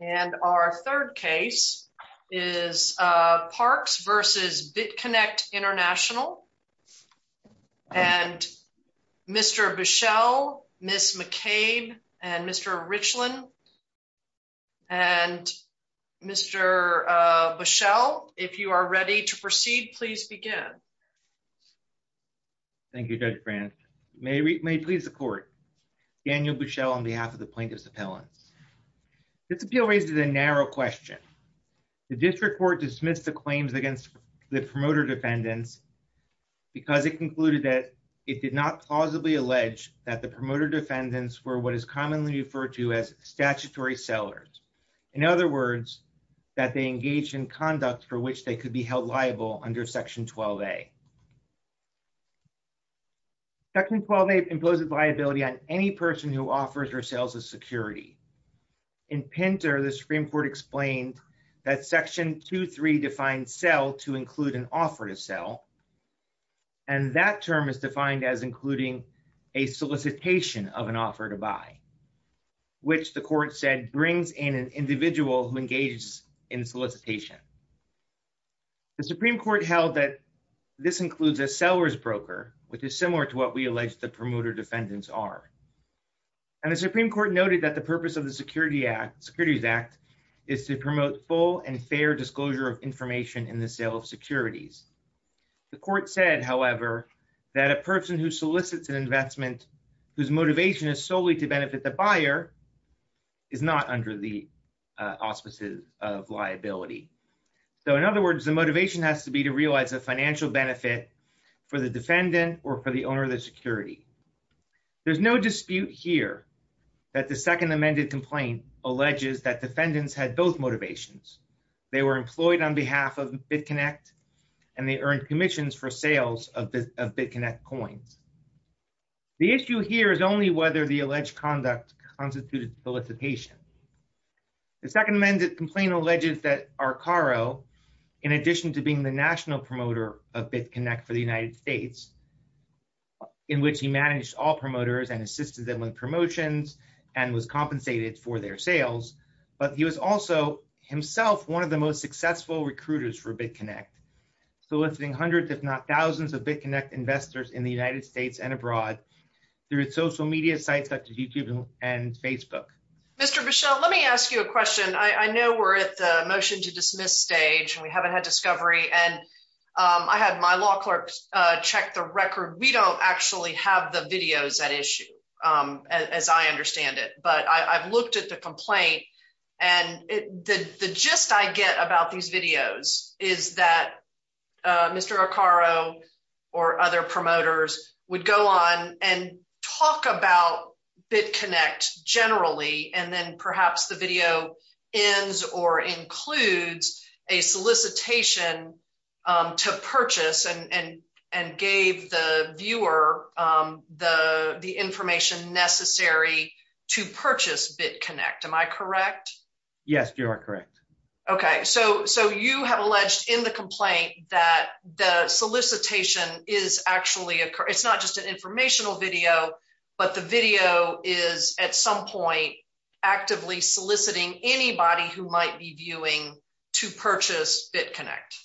And our third case is Parks v. BitConnect International. And Mr. Buschel, Ms. McCabe, and Mr. Richland. And Mr. Buschel, if you are ready to proceed, please begin. Thank you, Judge Grant. May it please the court. Daniel Buschel on behalf of the plaintiff's appellants. This appeal raises a narrow question. The district court dismissed the claims against the promoter defendants because it concluded that it did not plausibly allege that the promoter defendants were what is commonly referred to as statutory sellers. In other words, that they engaged in conduct for which they could be held liable under Section 12A. Section 12A imposes liability on any person who offers her sales as security. In Pinter, the Supreme Court explained that Section 2.3 defines sell to include an offer to sell. And that term is defined as including a solicitation of an offer to buy, which the court said brings in an individual who engages in solicitation. The Supreme Court held that this includes a seller's broker, which is similar to what we alleged the promoter defendants are. And the Supreme Court noted that the purpose of the Securities Act is to promote full and fair disclosure of information in the sale of securities. The court said, however, that a person who solicits an investment whose motivation is solely to benefit the buyer is not under the auspices of liability. So in other words, the motivation has to be to realize a financial benefit for the defendant or for the owner of the security. There's no dispute here that the second amended complaint alleges that defendants had both motivations. They were employed on behalf of BitConnect and they earned commissions for sales of BitConnect coins. The issue here is only whether the alleged conduct constituted solicitation. The second amended complaint alleges that Arcaro, in addition to being the national promoter of BitConnect for the United States, in which he managed all promoters and assisted them with promotions and was compensated for their sales. But he was also himself one of the most successful recruiters for BitConnect, soliciting hundreds, if not thousands of BitConnect investors in the United States and abroad through social media sites such as YouTube and Facebook. Mr. Bichelle, let me ask you a question. I know we're at the motion to dismiss stage and we haven't had discovery and I had my law clerk check the record. We don't actually have the videos at issue as I understand it, but I've looked at the complaint and the gist I get about these videos is that Mr. Arcaro or other promoters would go on and talk about BitConnect generally and then perhaps the video ends or includes a solicitation to purchase and gave the viewer the information necessary to purchase BitConnect. Am I correct? Yes, you are correct. Okay, so you have alleged in the complaint that the solicitation is actually, it's not just an actively soliciting anybody who might be viewing to purchase BitConnect.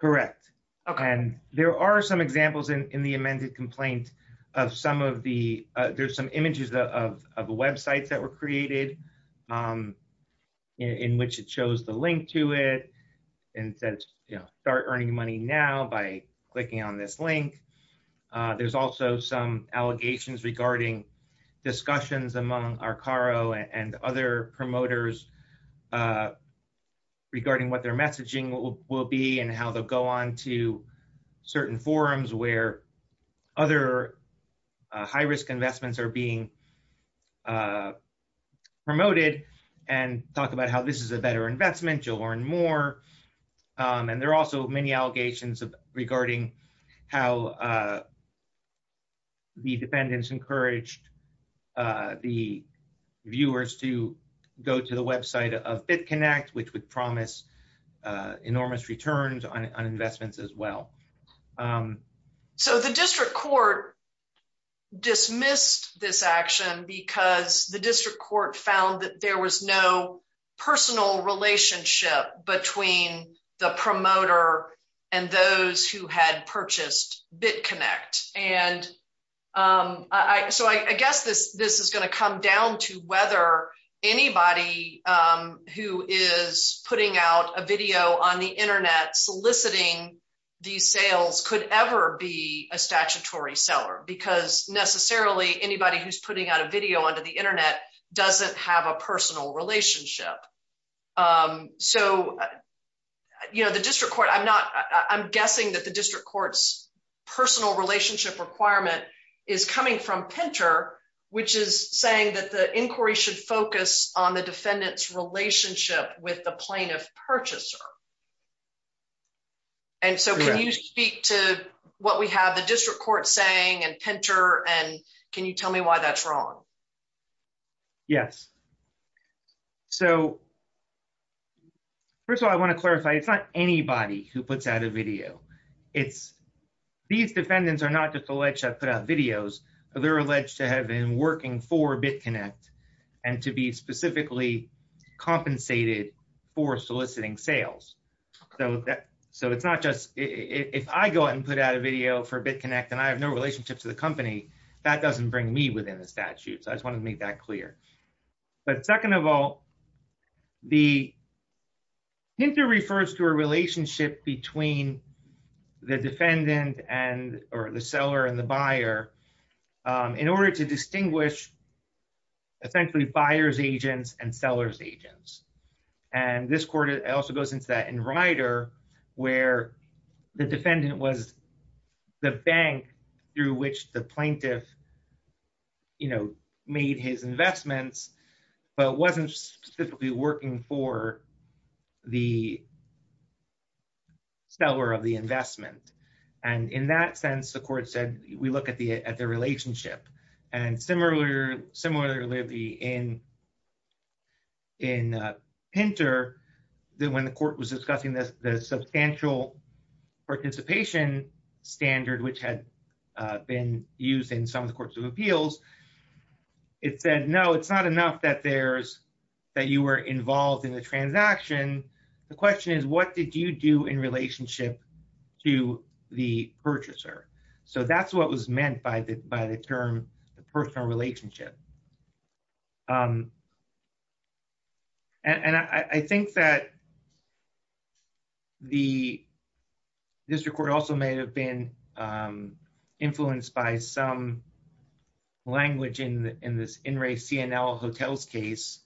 Correct. And there are some examples in the amended complaint of some of the, there's some images of websites that were created in which it shows the link to it and says, you know, start earning money now by clicking on this link. There's also some and other promoters regarding what their messaging will be and how they'll go on to certain forums where other high-risk investments are being promoted and talk about how this is a better investment, you'll learn more. And there are also many allegations regarding how the defendants encouraged the viewers to go to the website of BitConnect, which would promise enormous returns on investments as well. So the district court dismissed this action because the district court found that there was no personal relationship between the promoter and those who had purchased BitConnect. And I, so I guess this, this is going to come down to whether anybody who is putting out a video on the internet soliciting these sales could ever be a statutory seller because necessarily anybody who's putting out a video onto the internet doesn't have a personal relationship. So, you know, the district court, I'm not, I'm guessing that the district court's relationship requirement is coming from Pinter, which is saying that the inquiry should focus on the defendant's relationship with the plaintiff purchaser. And so can you speak to what we have the district court saying and Pinter, and can you tell me why that's wrong? Yes. So first of all, I want to clarify, it's not anybody who puts out a video. It's, these defendants are not just alleged to put out videos or they're alleged to have been working for BitConnect and to be specifically compensated for soliciting sales. So, so it's not just, if I go out and put out a video for BitConnect and I have no relationship to the company, that doesn't bring me within the between the defendant and, or the seller and the buyer in order to distinguish essentially buyer's agents and seller's agents. And this court, it also goes into that in Ryder where the defendant was the bank through which the plaintiff, you know, made his investments, but it wasn't specifically working for the seller of the investment. And in that sense, the court said, we look at the, at the relationship and similar, similarly in Pinter, then when the court was discussing this, the substantial participation standard, which had been used in some of the courts of appeals, it said, no, it's not enough that there's, that you were involved in the transaction. The question is, what did you do in relationship to the purchaser? So that's what was meant by the, by the term, the personal relationship. And I think that the district court also may have been influenced by some language in this in-race CNL hotels case,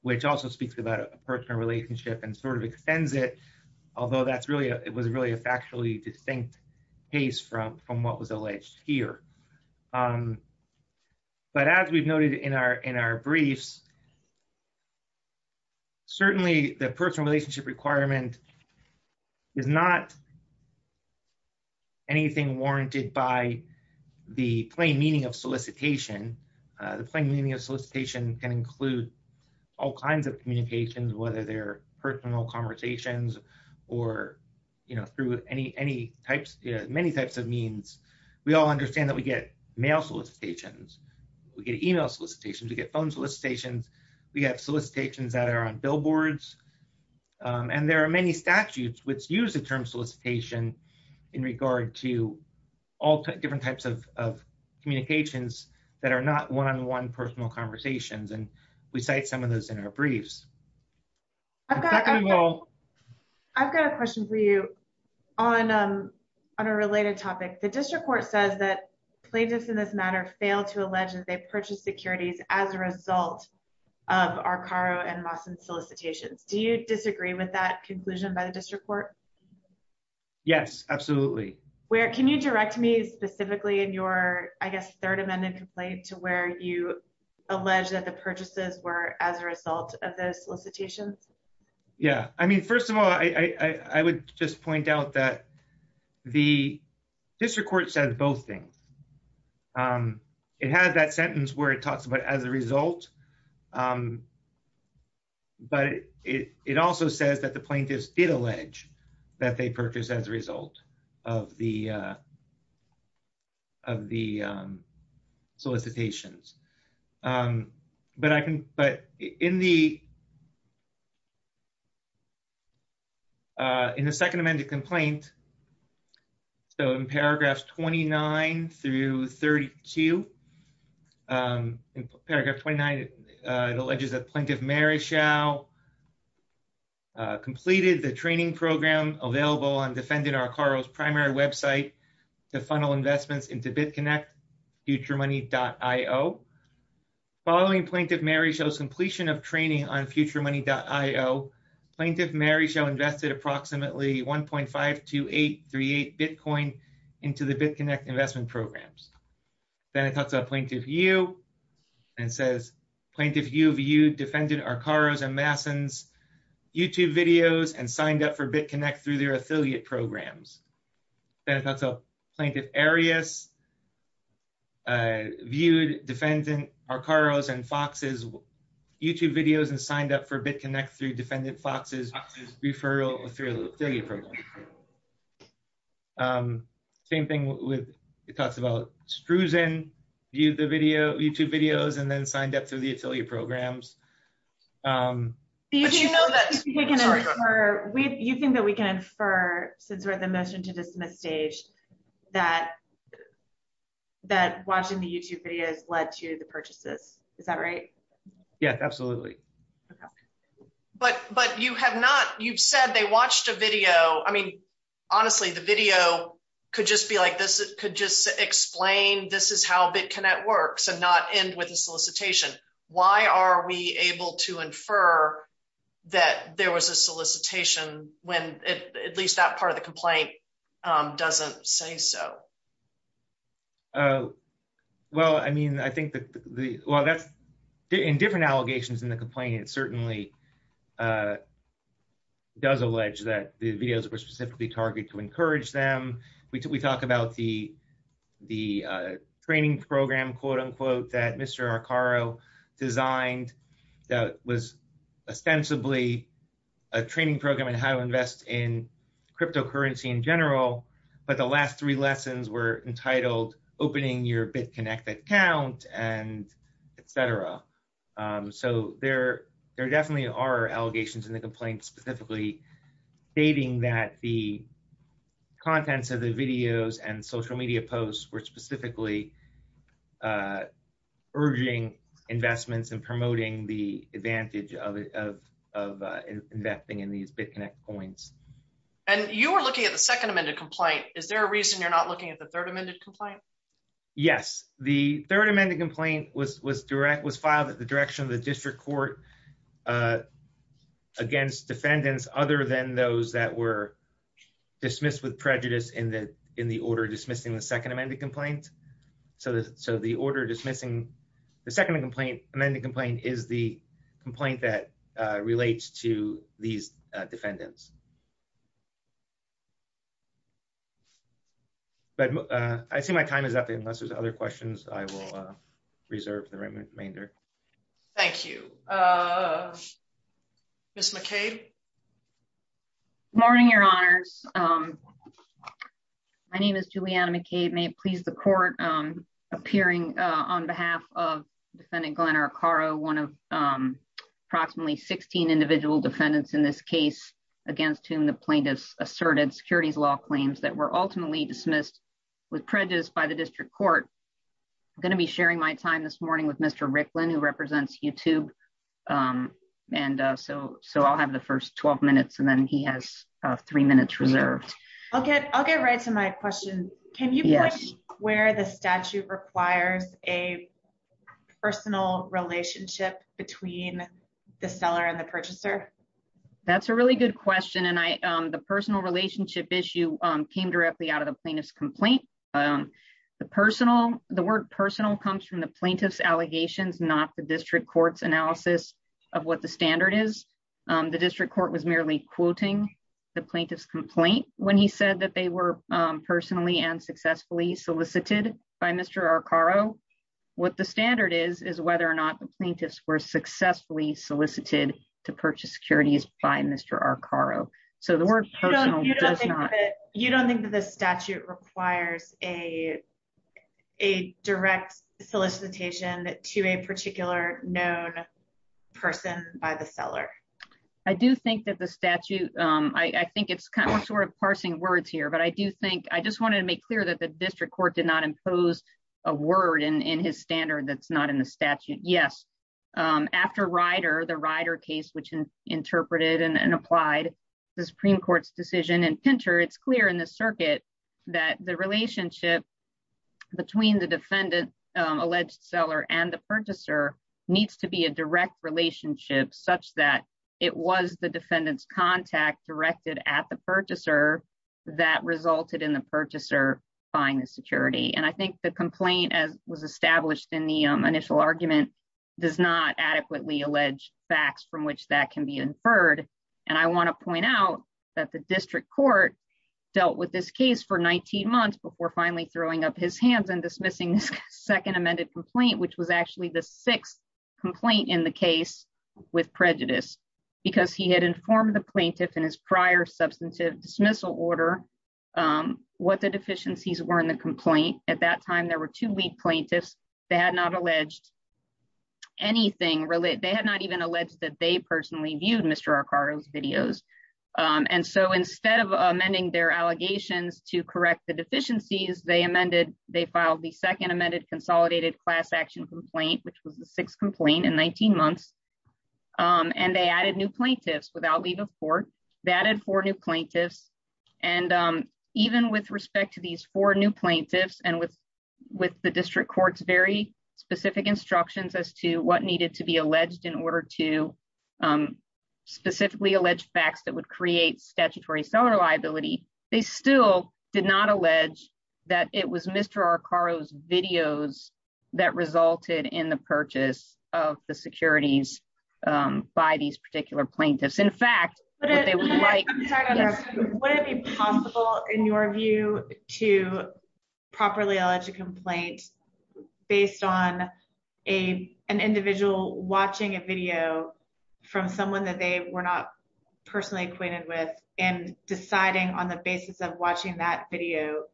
which also speaks about a personal relationship and sort of extends it. Although that's really, it was really a factually distinct case from, from what was alleged here. But as we've noted in our, in our briefs, certainly the personal relationship requirement is not anything warranted by the plain meaning of solicitation. The plain meaning of solicitation can include all kinds of communications, whether they're personal conversations or, you know, through any, any types, many types of means. We all understand that we get mail solicitations, we get email solicitations, we get phone solicitations, we have solicitations that are on billboards. And there are many statutes which use the term solicitation in regard to all different types of, of communications that are not one-on-one personal conversations. And we cite some of those in our briefs. I've got a question for you on, on a related topic. The district court says that plaintiffs in this matter fail to allege that they purchased securities as a result of our Caro and Lawson solicitations. Do you disagree with that conclusion by the district court? Yes, absolutely. Where, can you direct me specifically in your, I guess, third amendment complaint to where you allege that the purchases were as a result of those solicitations? Yeah, I mean, first of all, I would just point out that the district court says both things. It has that sentence where it talks about as a result, but it also says that the plaintiffs did allege that they purchased as a result of the, of the solicitations. But I can, but in the, in the second amended complaint, so in paragraphs 29 through 32, in paragraph 29, it alleges that Plaintiff Maryshall completed the training program available on defendant or Caro's primary website. The funnel investments into BitConnect, futuremoney.io. Following Plaintiff Maryshall's completion of training on futuremoney.io, Plaintiff Maryshall invested approximately 1.52838 Bitcoin into the BitConnect investment programs. Then it talks about Plaintiff Yu and says Plaintiff Yu of Yu defended our Caro's and Lawson's YouTube videos and signed up for BitConnect through their affiliate programs. Then it talks about Plaintiff Arius viewed defendant our Caro's and Fox's YouTube videos and signed up for BitConnect through defendant Fox's referral through the affiliate program. Same thing with, it talks about Struzan viewed the video, YouTube videos, and then signed up through the affiliate programs. But you know that we can infer, you think that we can infer since we're at the motion to dismiss stage that watching the YouTube videos led to the purchases, is that right? Yeah, absolutely. But you have not, you've said they watched a video, I mean, honestly, the video could just be like this, it could just explain this is how BitConnect works and not end with a solicitation. Why are we able to infer that there was a solicitation when at least that part of the complaint doesn't say so? Well, I mean, I think that the, well, that's in different allegations in the complaint, it certainly does allege that the videos were specifically targeted to encourage them. We talked about the training program, quote unquote, that Mr. Caro designed, that was ostensibly a training program on how to invest in cryptocurrency in general. But the last three lessons were entitled opening your BitConnect account and etc. So there definitely are allegations in the complaint specifically stating that the contents of the videos and social media posts were specifically urging investments and promoting the advantage of investing in these BitConnect coins. And you were looking at the second amended complaint, is there a reason you're not looking at the third amended complaint? Yes, the third amended complaint was filed at the direction of the district court against defendants other than those that were dismissed with prejudice in the order dismissing the second amended complaint. So the order dismissing the second amended complaint is the complaint that relates to these defendants. But I see my time is up, unless there's other questions, I will reserve the remainder. Thank you. Ms. McCabe. Morning, your honors. My name is Juliana McCabe, may it please the court, appearing on behalf of defendant Glenn Arcaro, one of approximately 16 individual defendants in this case against whom the plaintiffs asserted securities law claims that were ultimately dismissed with prejudice by the district court. I'm going to be sharing my time this morning with Mr. Ricklin who represents YouTube. And so I'll have the first 12 minutes and then he has three minutes reserved. Okay, I'll get right to my question. Can you point to where the statute requires a personal relationship between the seller and the purchaser? That's a really good question. And the personal relationship issue came directly out of the the word personal comes from the plaintiff's allegations, not the district court's analysis of what the standard is. The district court was merely quoting the plaintiff's complaint when he said that they were personally and successfully solicited by Mr. Arcaro. What the standard is, is whether or not the plaintiffs were successfully solicited to purchase securities by Mr. Arcaro. So the word personal does not. You don't think that the statute requires a direct solicitation to a particular known person by the seller? I do think that the statute, I think it's kind of sort of parsing words here, but I do think, I just wanted to make clear that the district court did not impose a word in his standard that's not in the statute. Yes, after Ryder, the Ryder case which interpreted and applied the Supreme Court's decision in Pinter, it's clear in the circuit that the relationship between the defendant alleged seller and the purchaser needs to be a direct relationship such that it was the defendant's contact directed at the purchaser that resulted in the purchaser buying the security. And I think the complaint as was inferred, and I want to point out that the district court dealt with this case for 19 months before finally throwing up his hands and dismissing this second amended complaint, which was actually the sixth complaint in the case with prejudice because he had informed the plaintiff in his prior substantive dismissal order what the deficiencies were in the complaint. At that time, there were two lead plaintiffs. They had not alleged anything related. They had not even alleged that they personally viewed Mr. Ricardo's videos. And so instead of amending their allegations to correct the deficiencies, they amended, they filed the second amended consolidated class action complaint, which was the sixth complaint in 19 months. And they added new plaintiffs without leave of court, they added four new plaintiffs. And even with respect to these four new plaintiffs and with the district court's very specific instructions as to what to be alleged in order to specifically alleged facts that would create statutory seller liability, they still did not allege that it was Mr. Ricardo's videos that resulted in the purchase of the securities by these particular plaintiffs. In fact, they were like, would it be possible in your view to properly allege a complaint based on a an individual watching a video from someone that they were not personally acquainted with and deciding on the basis of watching that video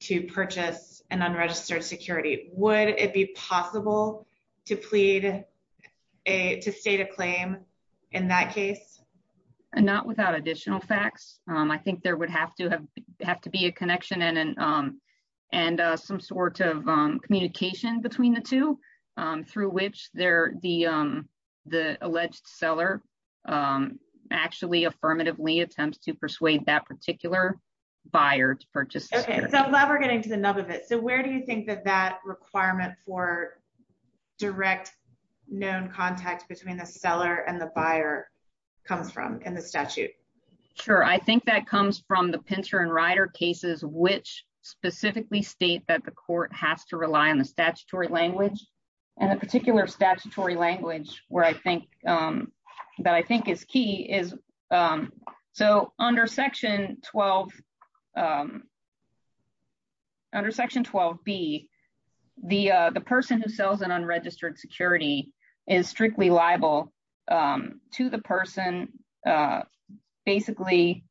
to purchase an unregistered security? Would it be possible to plead a to state a claim in that case? And not without additional facts, I think there would have to have have to be a connection and and some sort of communication between the two through which they're the the alleged seller actually affirmatively attempts to persuade that particular buyer to purchase. Okay, so I'm glad we're getting to the nub of it. So where do you think that that requirement for direct known contact between the seller and the buyer comes from in the statute? Sure, I think that comes from the pincer and rider cases, which specifically state that the court has to rely on the statutory language. And a particular statutory language where I think that I think is key is so under section 12. Under section 12. B, the the person who sells an unregistered security is strictly liable to the person basically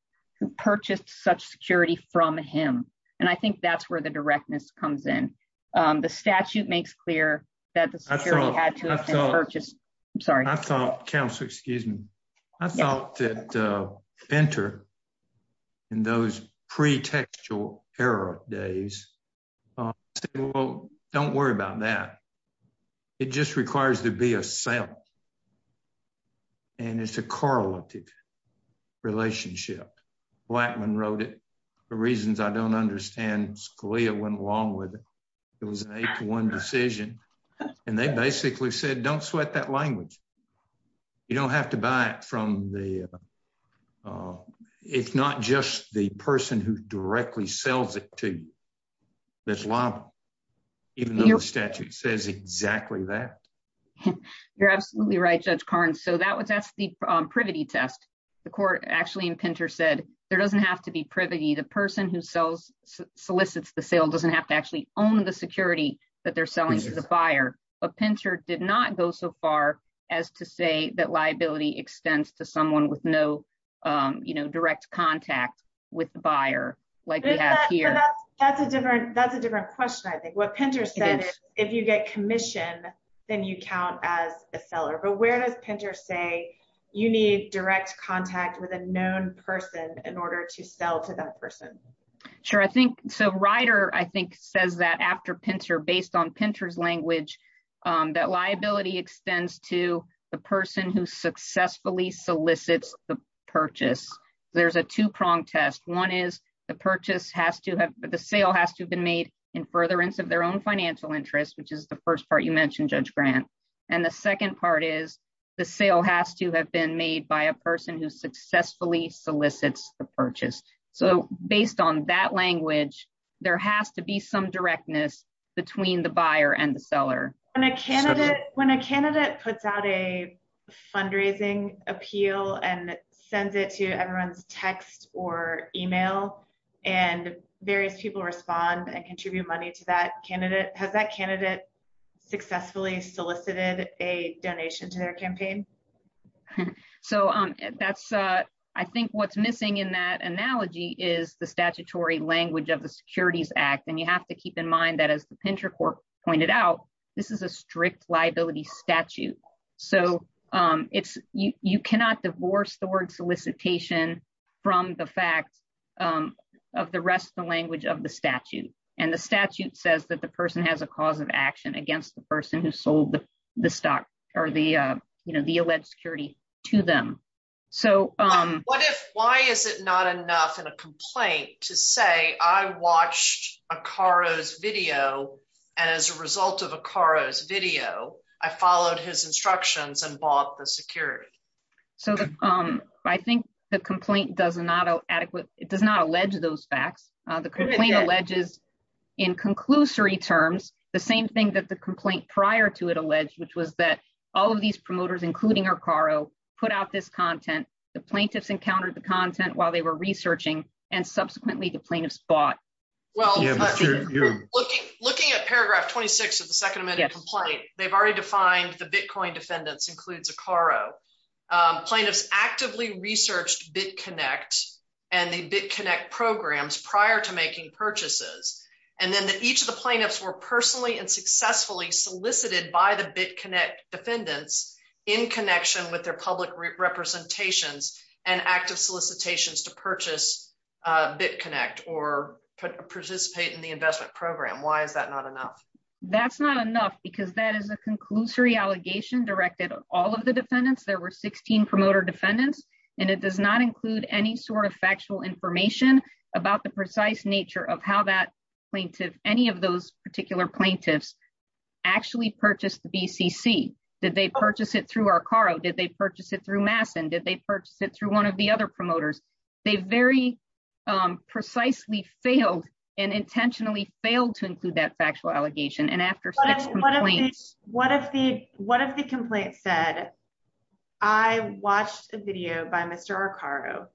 purchased such security from him. And I think that's where the directness comes in. The statute makes clear that the security had to have been purchased. Sorry, I thought counsel, excuse me. I thought that enter in those pre textual era days. Well, don't worry about that. It just requires to be a sale. And it's a correlative relationship. Blackman wrote it. The reasons I don't understand Scalia went along with it was a one decision. And they basically said don't sweat that language. You don't have to buy it from the it's not just the person who directly sells it to this law. Even though the statute says exactly that. You're absolutely right, Judge Karnes. So that was that's the privity test. The court actually in Pinter said there doesn't have to be privity. The person who sells solicits the sale doesn't have to actually own the security that they're selling to the buyer. But Pinter did not go so far as to say that liability extends to someone with no, you know, direct contact with the buyer. Like here, that's a different that's a different question. I think what Pinter said, if you get commission, then you count as a seller. But where does Pinter say, you need direct contact with a known person in order to sell to that person? Sure. I think so. Ryder, I think, says that after Pinter based on Pinter's language, that liability extends to the person who successfully solicits the purchase. There's a two prong test. One is the purchase has to have the sale has to have been made in furtherance of their own financial interest, which is the first part you mentioned, Judge Grant. And the second part is the sale has to have been made by a person who successfully solicits the purchase. So based on that language, there has to be some directness between the buyer and the seller. When a candidate puts out a fundraising appeal and sends it to everyone's text or email, and various people respond and contribute money to that candidate, has that candidate successfully solicited a donation to their campaign? Okay. So I think what's missing in that analogy is the statutory language of the Securities Act. And you have to keep in mind that as the Pinter court pointed out, this is a strict liability statute. So you cannot divorce the word solicitation from the fact of the rest of the language of the statute. And the statute says that the person has a cause of action against the stock or the, you know, the alleged security to them. So... What if, why is it not enough in a complaint to say, I watched Akaro's video, and as a result of Akaro's video, I followed his instructions and bought the security? So I think the complaint does not adequate, it does not allege those facts. The complaint alleges in conclusory terms, the same thing that the complaint prior to it alleged, which was that all of these promoters, including Akaro, put out this content, the plaintiffs encountered the content while they were researching, and subsequently the plaintiffs bought. Well, looking at paragraph 26 of the second amendment complaint, they've already defined the Bitcoin defendants includes Akaro. Plaintiffs actively researched BitConnect and the BitConnect programs prior to making purchases. And then that each of the plaintiffs were personally and successfully solicited by the BitConnect defendants in connection with their public representations and active solicitations to purchase BitConnect or participate in the investment program. Why is that not enough? That's not enough because that is a conclusory allegation directed at all of the defendants. There were 16 promoter defendants and it does not include any sort of factual information about the precise nature of how that plaintiff, any of those particular plaintiffs actually purchased the BCC. Did they purchase it through Akaro? Did they purchase it through Masson? Did they purchase it through one of the other promoters? They very precisely failed and intentionally failed to include that factual allegation and What if the complaint said, I watched a video by Mr. Akaro.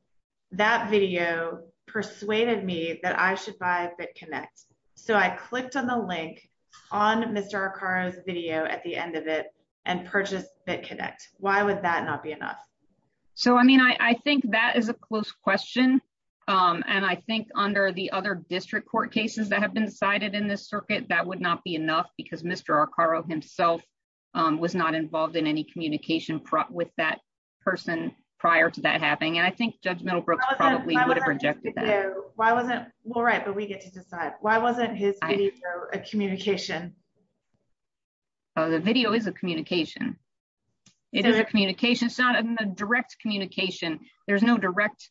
That video persuaded me that I should buy BitConnect. So I clicked on the link on Mr. Akaro's video at the end of it and purchased BitConnect. Why would that not be enough? So, I mean, I think that is a close question. And I think under the other district court cases that have been decided in this circuit, that would not be enough because Mr. Akaro himself was not involved in any communication with that person prior to that happening. And I think Judge Middlebrooks probably would have rejected that. Why wasn't, well, right, but we get to decide. Why wasn't his video a communication? Oh, the video is a communication. It is a communication. It's not a direct communication. There's no direct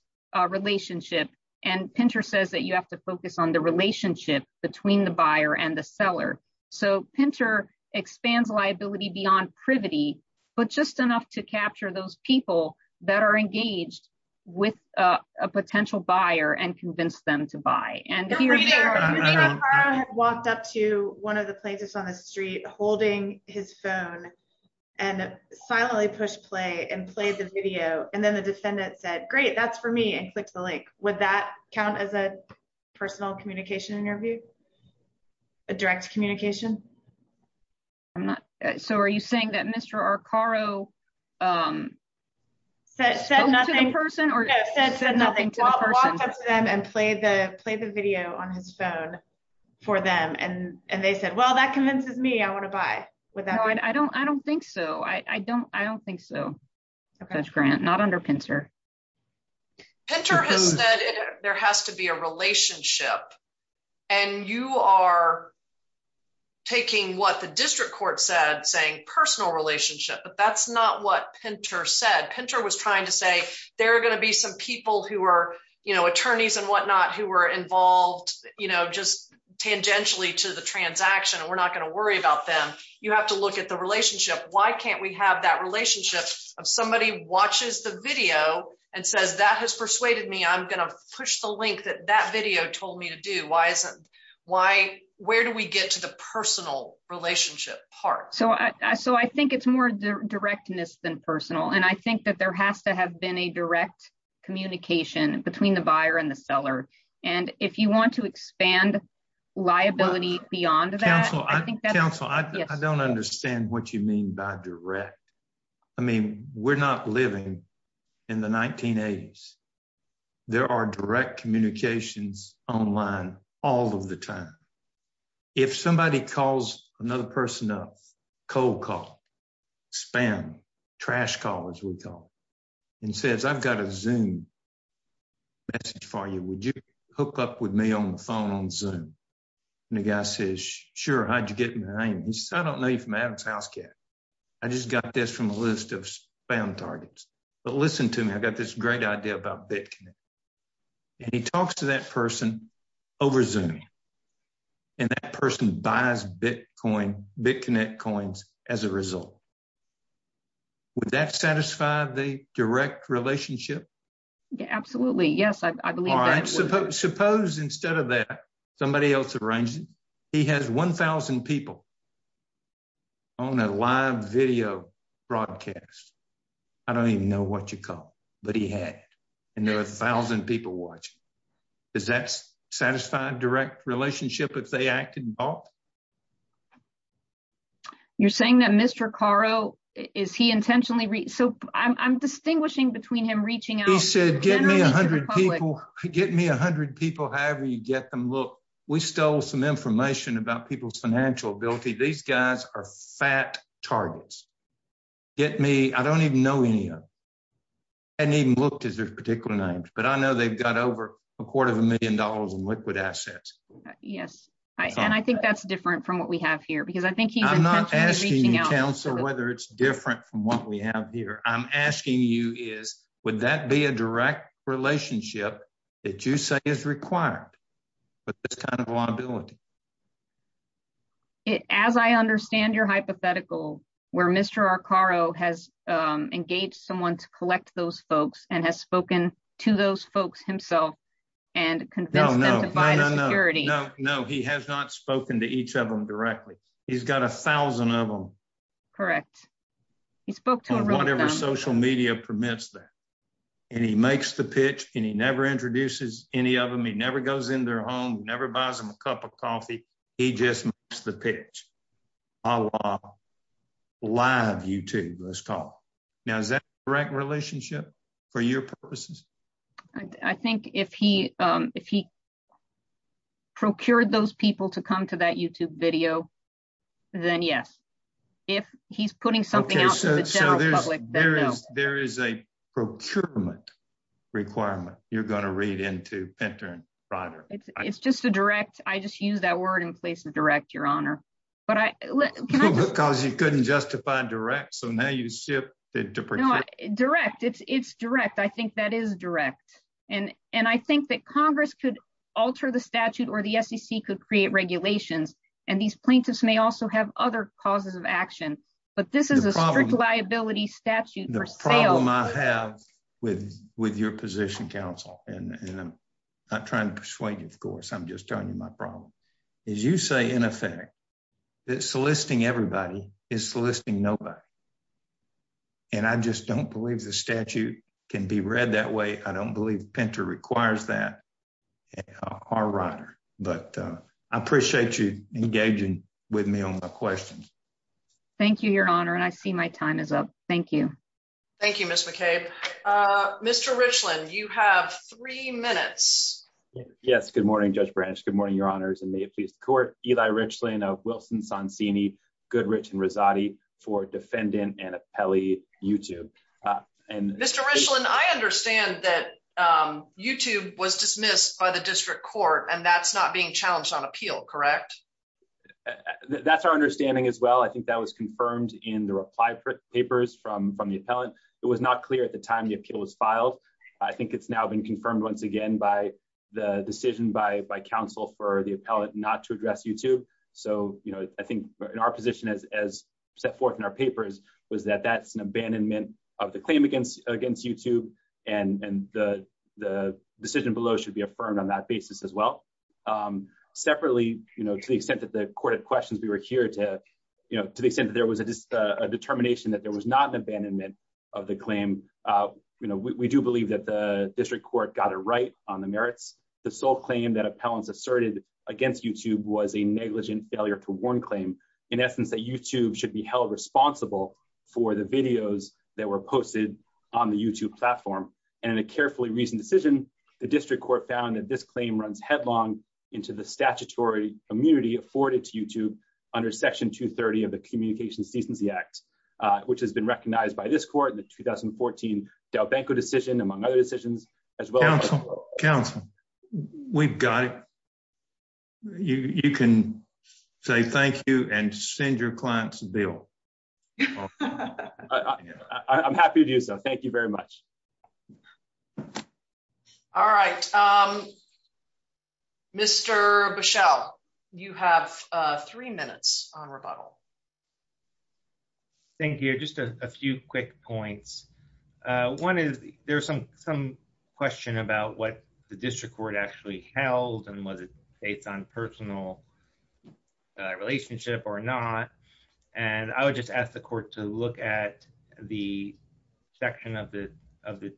relationship. And Pinter says that you have to focus on the relationship between the buyer and the seller. So Pinter expands liability beyond privity, but just enough to capture those people that are engaged with a potential buyer and convince them to buy. Mr. Akaro walked up to one of the plaintiffs on the street holding his phone and silently pushed play and played the video. And then the defendant said, great, that's for me and clicked the link. Would that count as a personal communication interview? A direct communication? So are you saying that Mr. Akaro said nothing to the person? No, said nothing. Walked up to them and played the video on his phone for them. And they said, well, that convinces me I want to buy. No, I don't think so. I don't think so, Judge Grant. Not under Pinter. Pinter has said there has to be a relationship. And you are taking what the district court said, saying personal relationship. But that's not what Pinter said. Pinter was trying to say, there are going to be some people who are attorneys and whatnot who were involved just tangentially to the transaction. And we're not going to worry about them. You have to look at the relationship. Why can't we have that relationship of somebody watches the video and says, that has persuaded me. I'm going to push the link that that video told me to do. Where do we get to the personal relationship part? So I think it's more directness than personal. And I think that there has to have been a direct communication between the buyer and the seller. And if you want to expand liability beyond that. Counsel, I don't understand what you mean by direct. I mean, we're not living in the 1980s. There are direct communications online all of the time. If somebody calls another person up, cold call, spam, trash call, as we call it, and says, I've got a Zoom message for you. Would you hook up with me on the phone on Zoom? And the guy says, sure. How'd you get my name? He says, I don't know you from Adam's house yet. I just got this from a list of spam targets. But listen to me. I've got this great idea about BitConnect. And he talks to that person over Zoom. And that person buys BitConnect coins as a result. Would that satisfy the direct relationship? Absolutely. Yes, I believe that. Suppose instead of that, somebody else arranges, he has 1,000 people on a live video broadcast. I don't even know what you call it. But he had it. And there were 1,000 people watching. Does that satisfy direct relationship if they act involved? You're saying that Mr. Caro, is he intentionally? So I'm distinguishing between him reaching out. He said, get me 100 people. Get me 100 people, however you get them. Look, we stole some information about people's financial ability. These guys are fat targets. Get me, I don't even know any of them. I haven't even looked at their particular names. But I know they've got over a quarter of a million dollars in liquid assets. Yes. And I think that's different from what we have here. Because I think he's intentionally reaching out. I'm not asking you, counsel, whether it's different from what we have here. I'm asking you is, would that be a direct relationship that you say is required with this kind of liability? As I understand your hypothetical, where Mr. Caro has engaged someone to collect those folks and has himself and convinced them to buy the security. No, he has not spoken to each of them directly. He's got 1,000 of them. Correct. He spoke to them. Whatever social media permits that. And he makes the pitch, and he never introduces any of them. He never goes in their home, never buys them a cup of coffee. He just makes the pitch, a la live YouTube, let's call it. Now, is that a direct relationship for your purposes? I think if he procured those people to come to that YouTube video, then yes. If he's putting something out to the general public, then no. There is a procurement requirement you're going to read into, Pinter and Ryder. It's just a direct. I just use that word in place of direct, your honor. Because you couldn't justify direct, so now you ship it to procure. Direct. It's direct. I think that is direct. And I think that Congress could alter the statute or the SEC could create regulations. And these plaintiffs may also have other causes of action. But this is a strict liability statute for sale. The problem I have with your position, counsel, and I'm not trying to persuade you, of course, I'm just telling you my problem. Is you say, in effect, that soliciting everybody is soliciting nobody. And I just don't believe the statute can be read that way. I don't believe Pinter requires that, or Ryder. But I appreciate you engaging with me on my questions. Thank you, your honor. And I see my time is up. Thank you. Thank you, Ms. McCabe. Mr. Richland, you have three minutes. Yes. Good morning, Judge Branisch. Good morning, your honors. And may it please the court, Eli Richland of Wilson, Sonsini, Goodrich, and Rosati for defendant and appellee YouTube. Mr. Richland, I understand that YouTube was dismissed by the district court and that's not being challenged on appeal, correct? That's our understanding as well. I think that was confirmed in the reply papers from the appellant. It was not clear at the time the appeal was filed. I think it's now been confirmed once again by the decision by counsel for the appellant not to address YouTube. So I think in our position as set forth in our papers was that that's an abandonment of the claim against YouTube and the decision below should be affirmed on that basis as well. Separately, to the extent that the court had questions, we were here to the extent that there was a determination that there was not an abandonment of the claim. We do believe that the district court got it right on the merits. The sole claim that appellants asserted against YouTube was a negligent failure to warn claim. In essence, that YouTube should be held responsible for the videos that were posted on the YouTube platform. And in a carefully reasoned decision, the district court found that this claim runs headlong into the statutory immunity afforded to YouTube under section 230 of the Communications Decency Act, which has been recognized by this court in the 2014 Delbanco decision, among other decisions, as well. Counsel, counsel, we've got it. You can say thank you and send your client's bill. I'm happy to do so. Thank you very much. All right. Mr. Bushell, you have three minutes on rebuttal. Thank you. Just a few quick points. One is there's some some question about what the district court actually held and was it based on personal relationship or not. And I would just ask the court to look at the section of the of the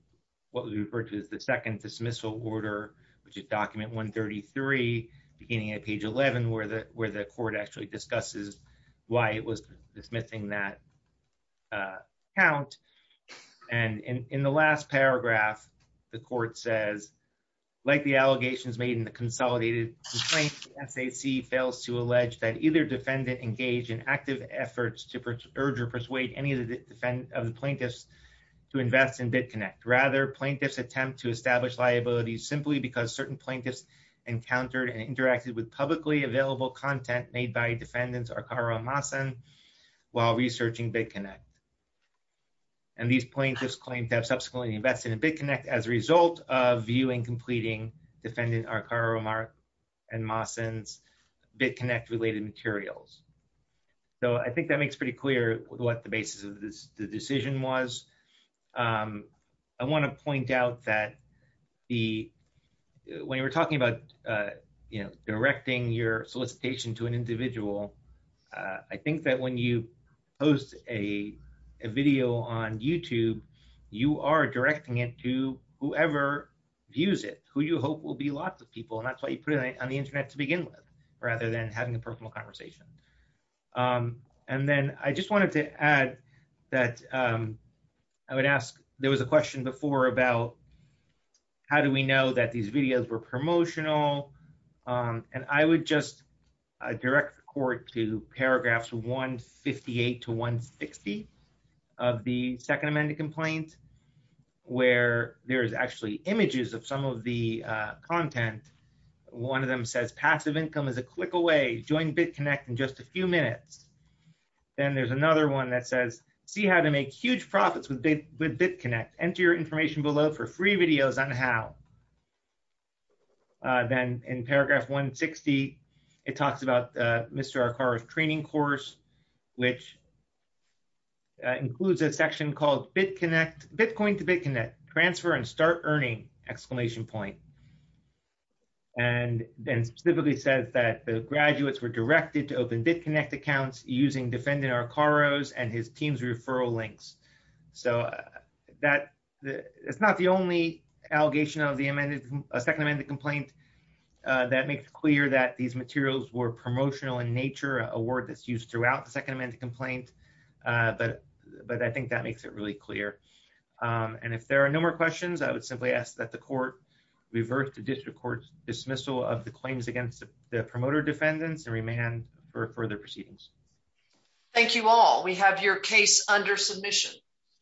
what we refer to as the second dismissal order, which is document 133, beginning at page 11, where the where the court actually discusses why it was dismissing that count. And in the last paragraph, the court says, like the allegations made in the consolidated complaint, SAC fails to allege that either defendant engaged in active efforts to urge or persuade any of the defendants of the plaintiffs to invest in BITCONNECT. Rather, plaintiffs attempt to establish liabilities simply because certain plaintiffs encountered and interacted with publicly available content made by defendants while researching BITCONNECT. And these plaintiffs claim to have subsequently invested in BITCONNECT as a result of viewing, completing defendant Arcaro Mark and Massen's BITCONNECT related materials. So I think that makes pretty clear what the basis of this decision was. I want to point out that the when you were talking about, you know, directing your solicitation to an individual, I think that when you post a video on YouTube, you are directing it to whoever views it, who you hope will be lots of people. And that's why you put it on the Internet to begin with, rather than having a personal conversation. And then I just wanted to add that I would ask, there was a question before about how do we know that these videos were directed to the court to paragraphs 158 to 160 of the Second Amendment Complaint, where there's actually images of some of the content. One of them says passive income is a click away. Join BITCONNECT in just a few minutes. Then there's another one that says, see how to make huge profits with BITCONNECT. Enter your information below for free videos on how. And then in paragraph 160, it talks about Mr. Arcaro's training course, which includes a section called BITCONNECT, Bitcoin to BITCONNECT, transfer and start earning, exclamation point. And then specifically says that the graduates were directed to open BITCONNECT accounts using defendant Arcaro's and his team's referral links. So it's not the only allegation of the Second Amendment Complaint. That makes clear that these materials were promotional in nature, a word that's used throughout the Second Amendment Complaint. But I think that makes it really clear. And if there are no more questions, I would simply ask that the court revert to district court dismissal of the claims against the promoter defendants and remand for further proceedings. Thank you all. We have your case under submission.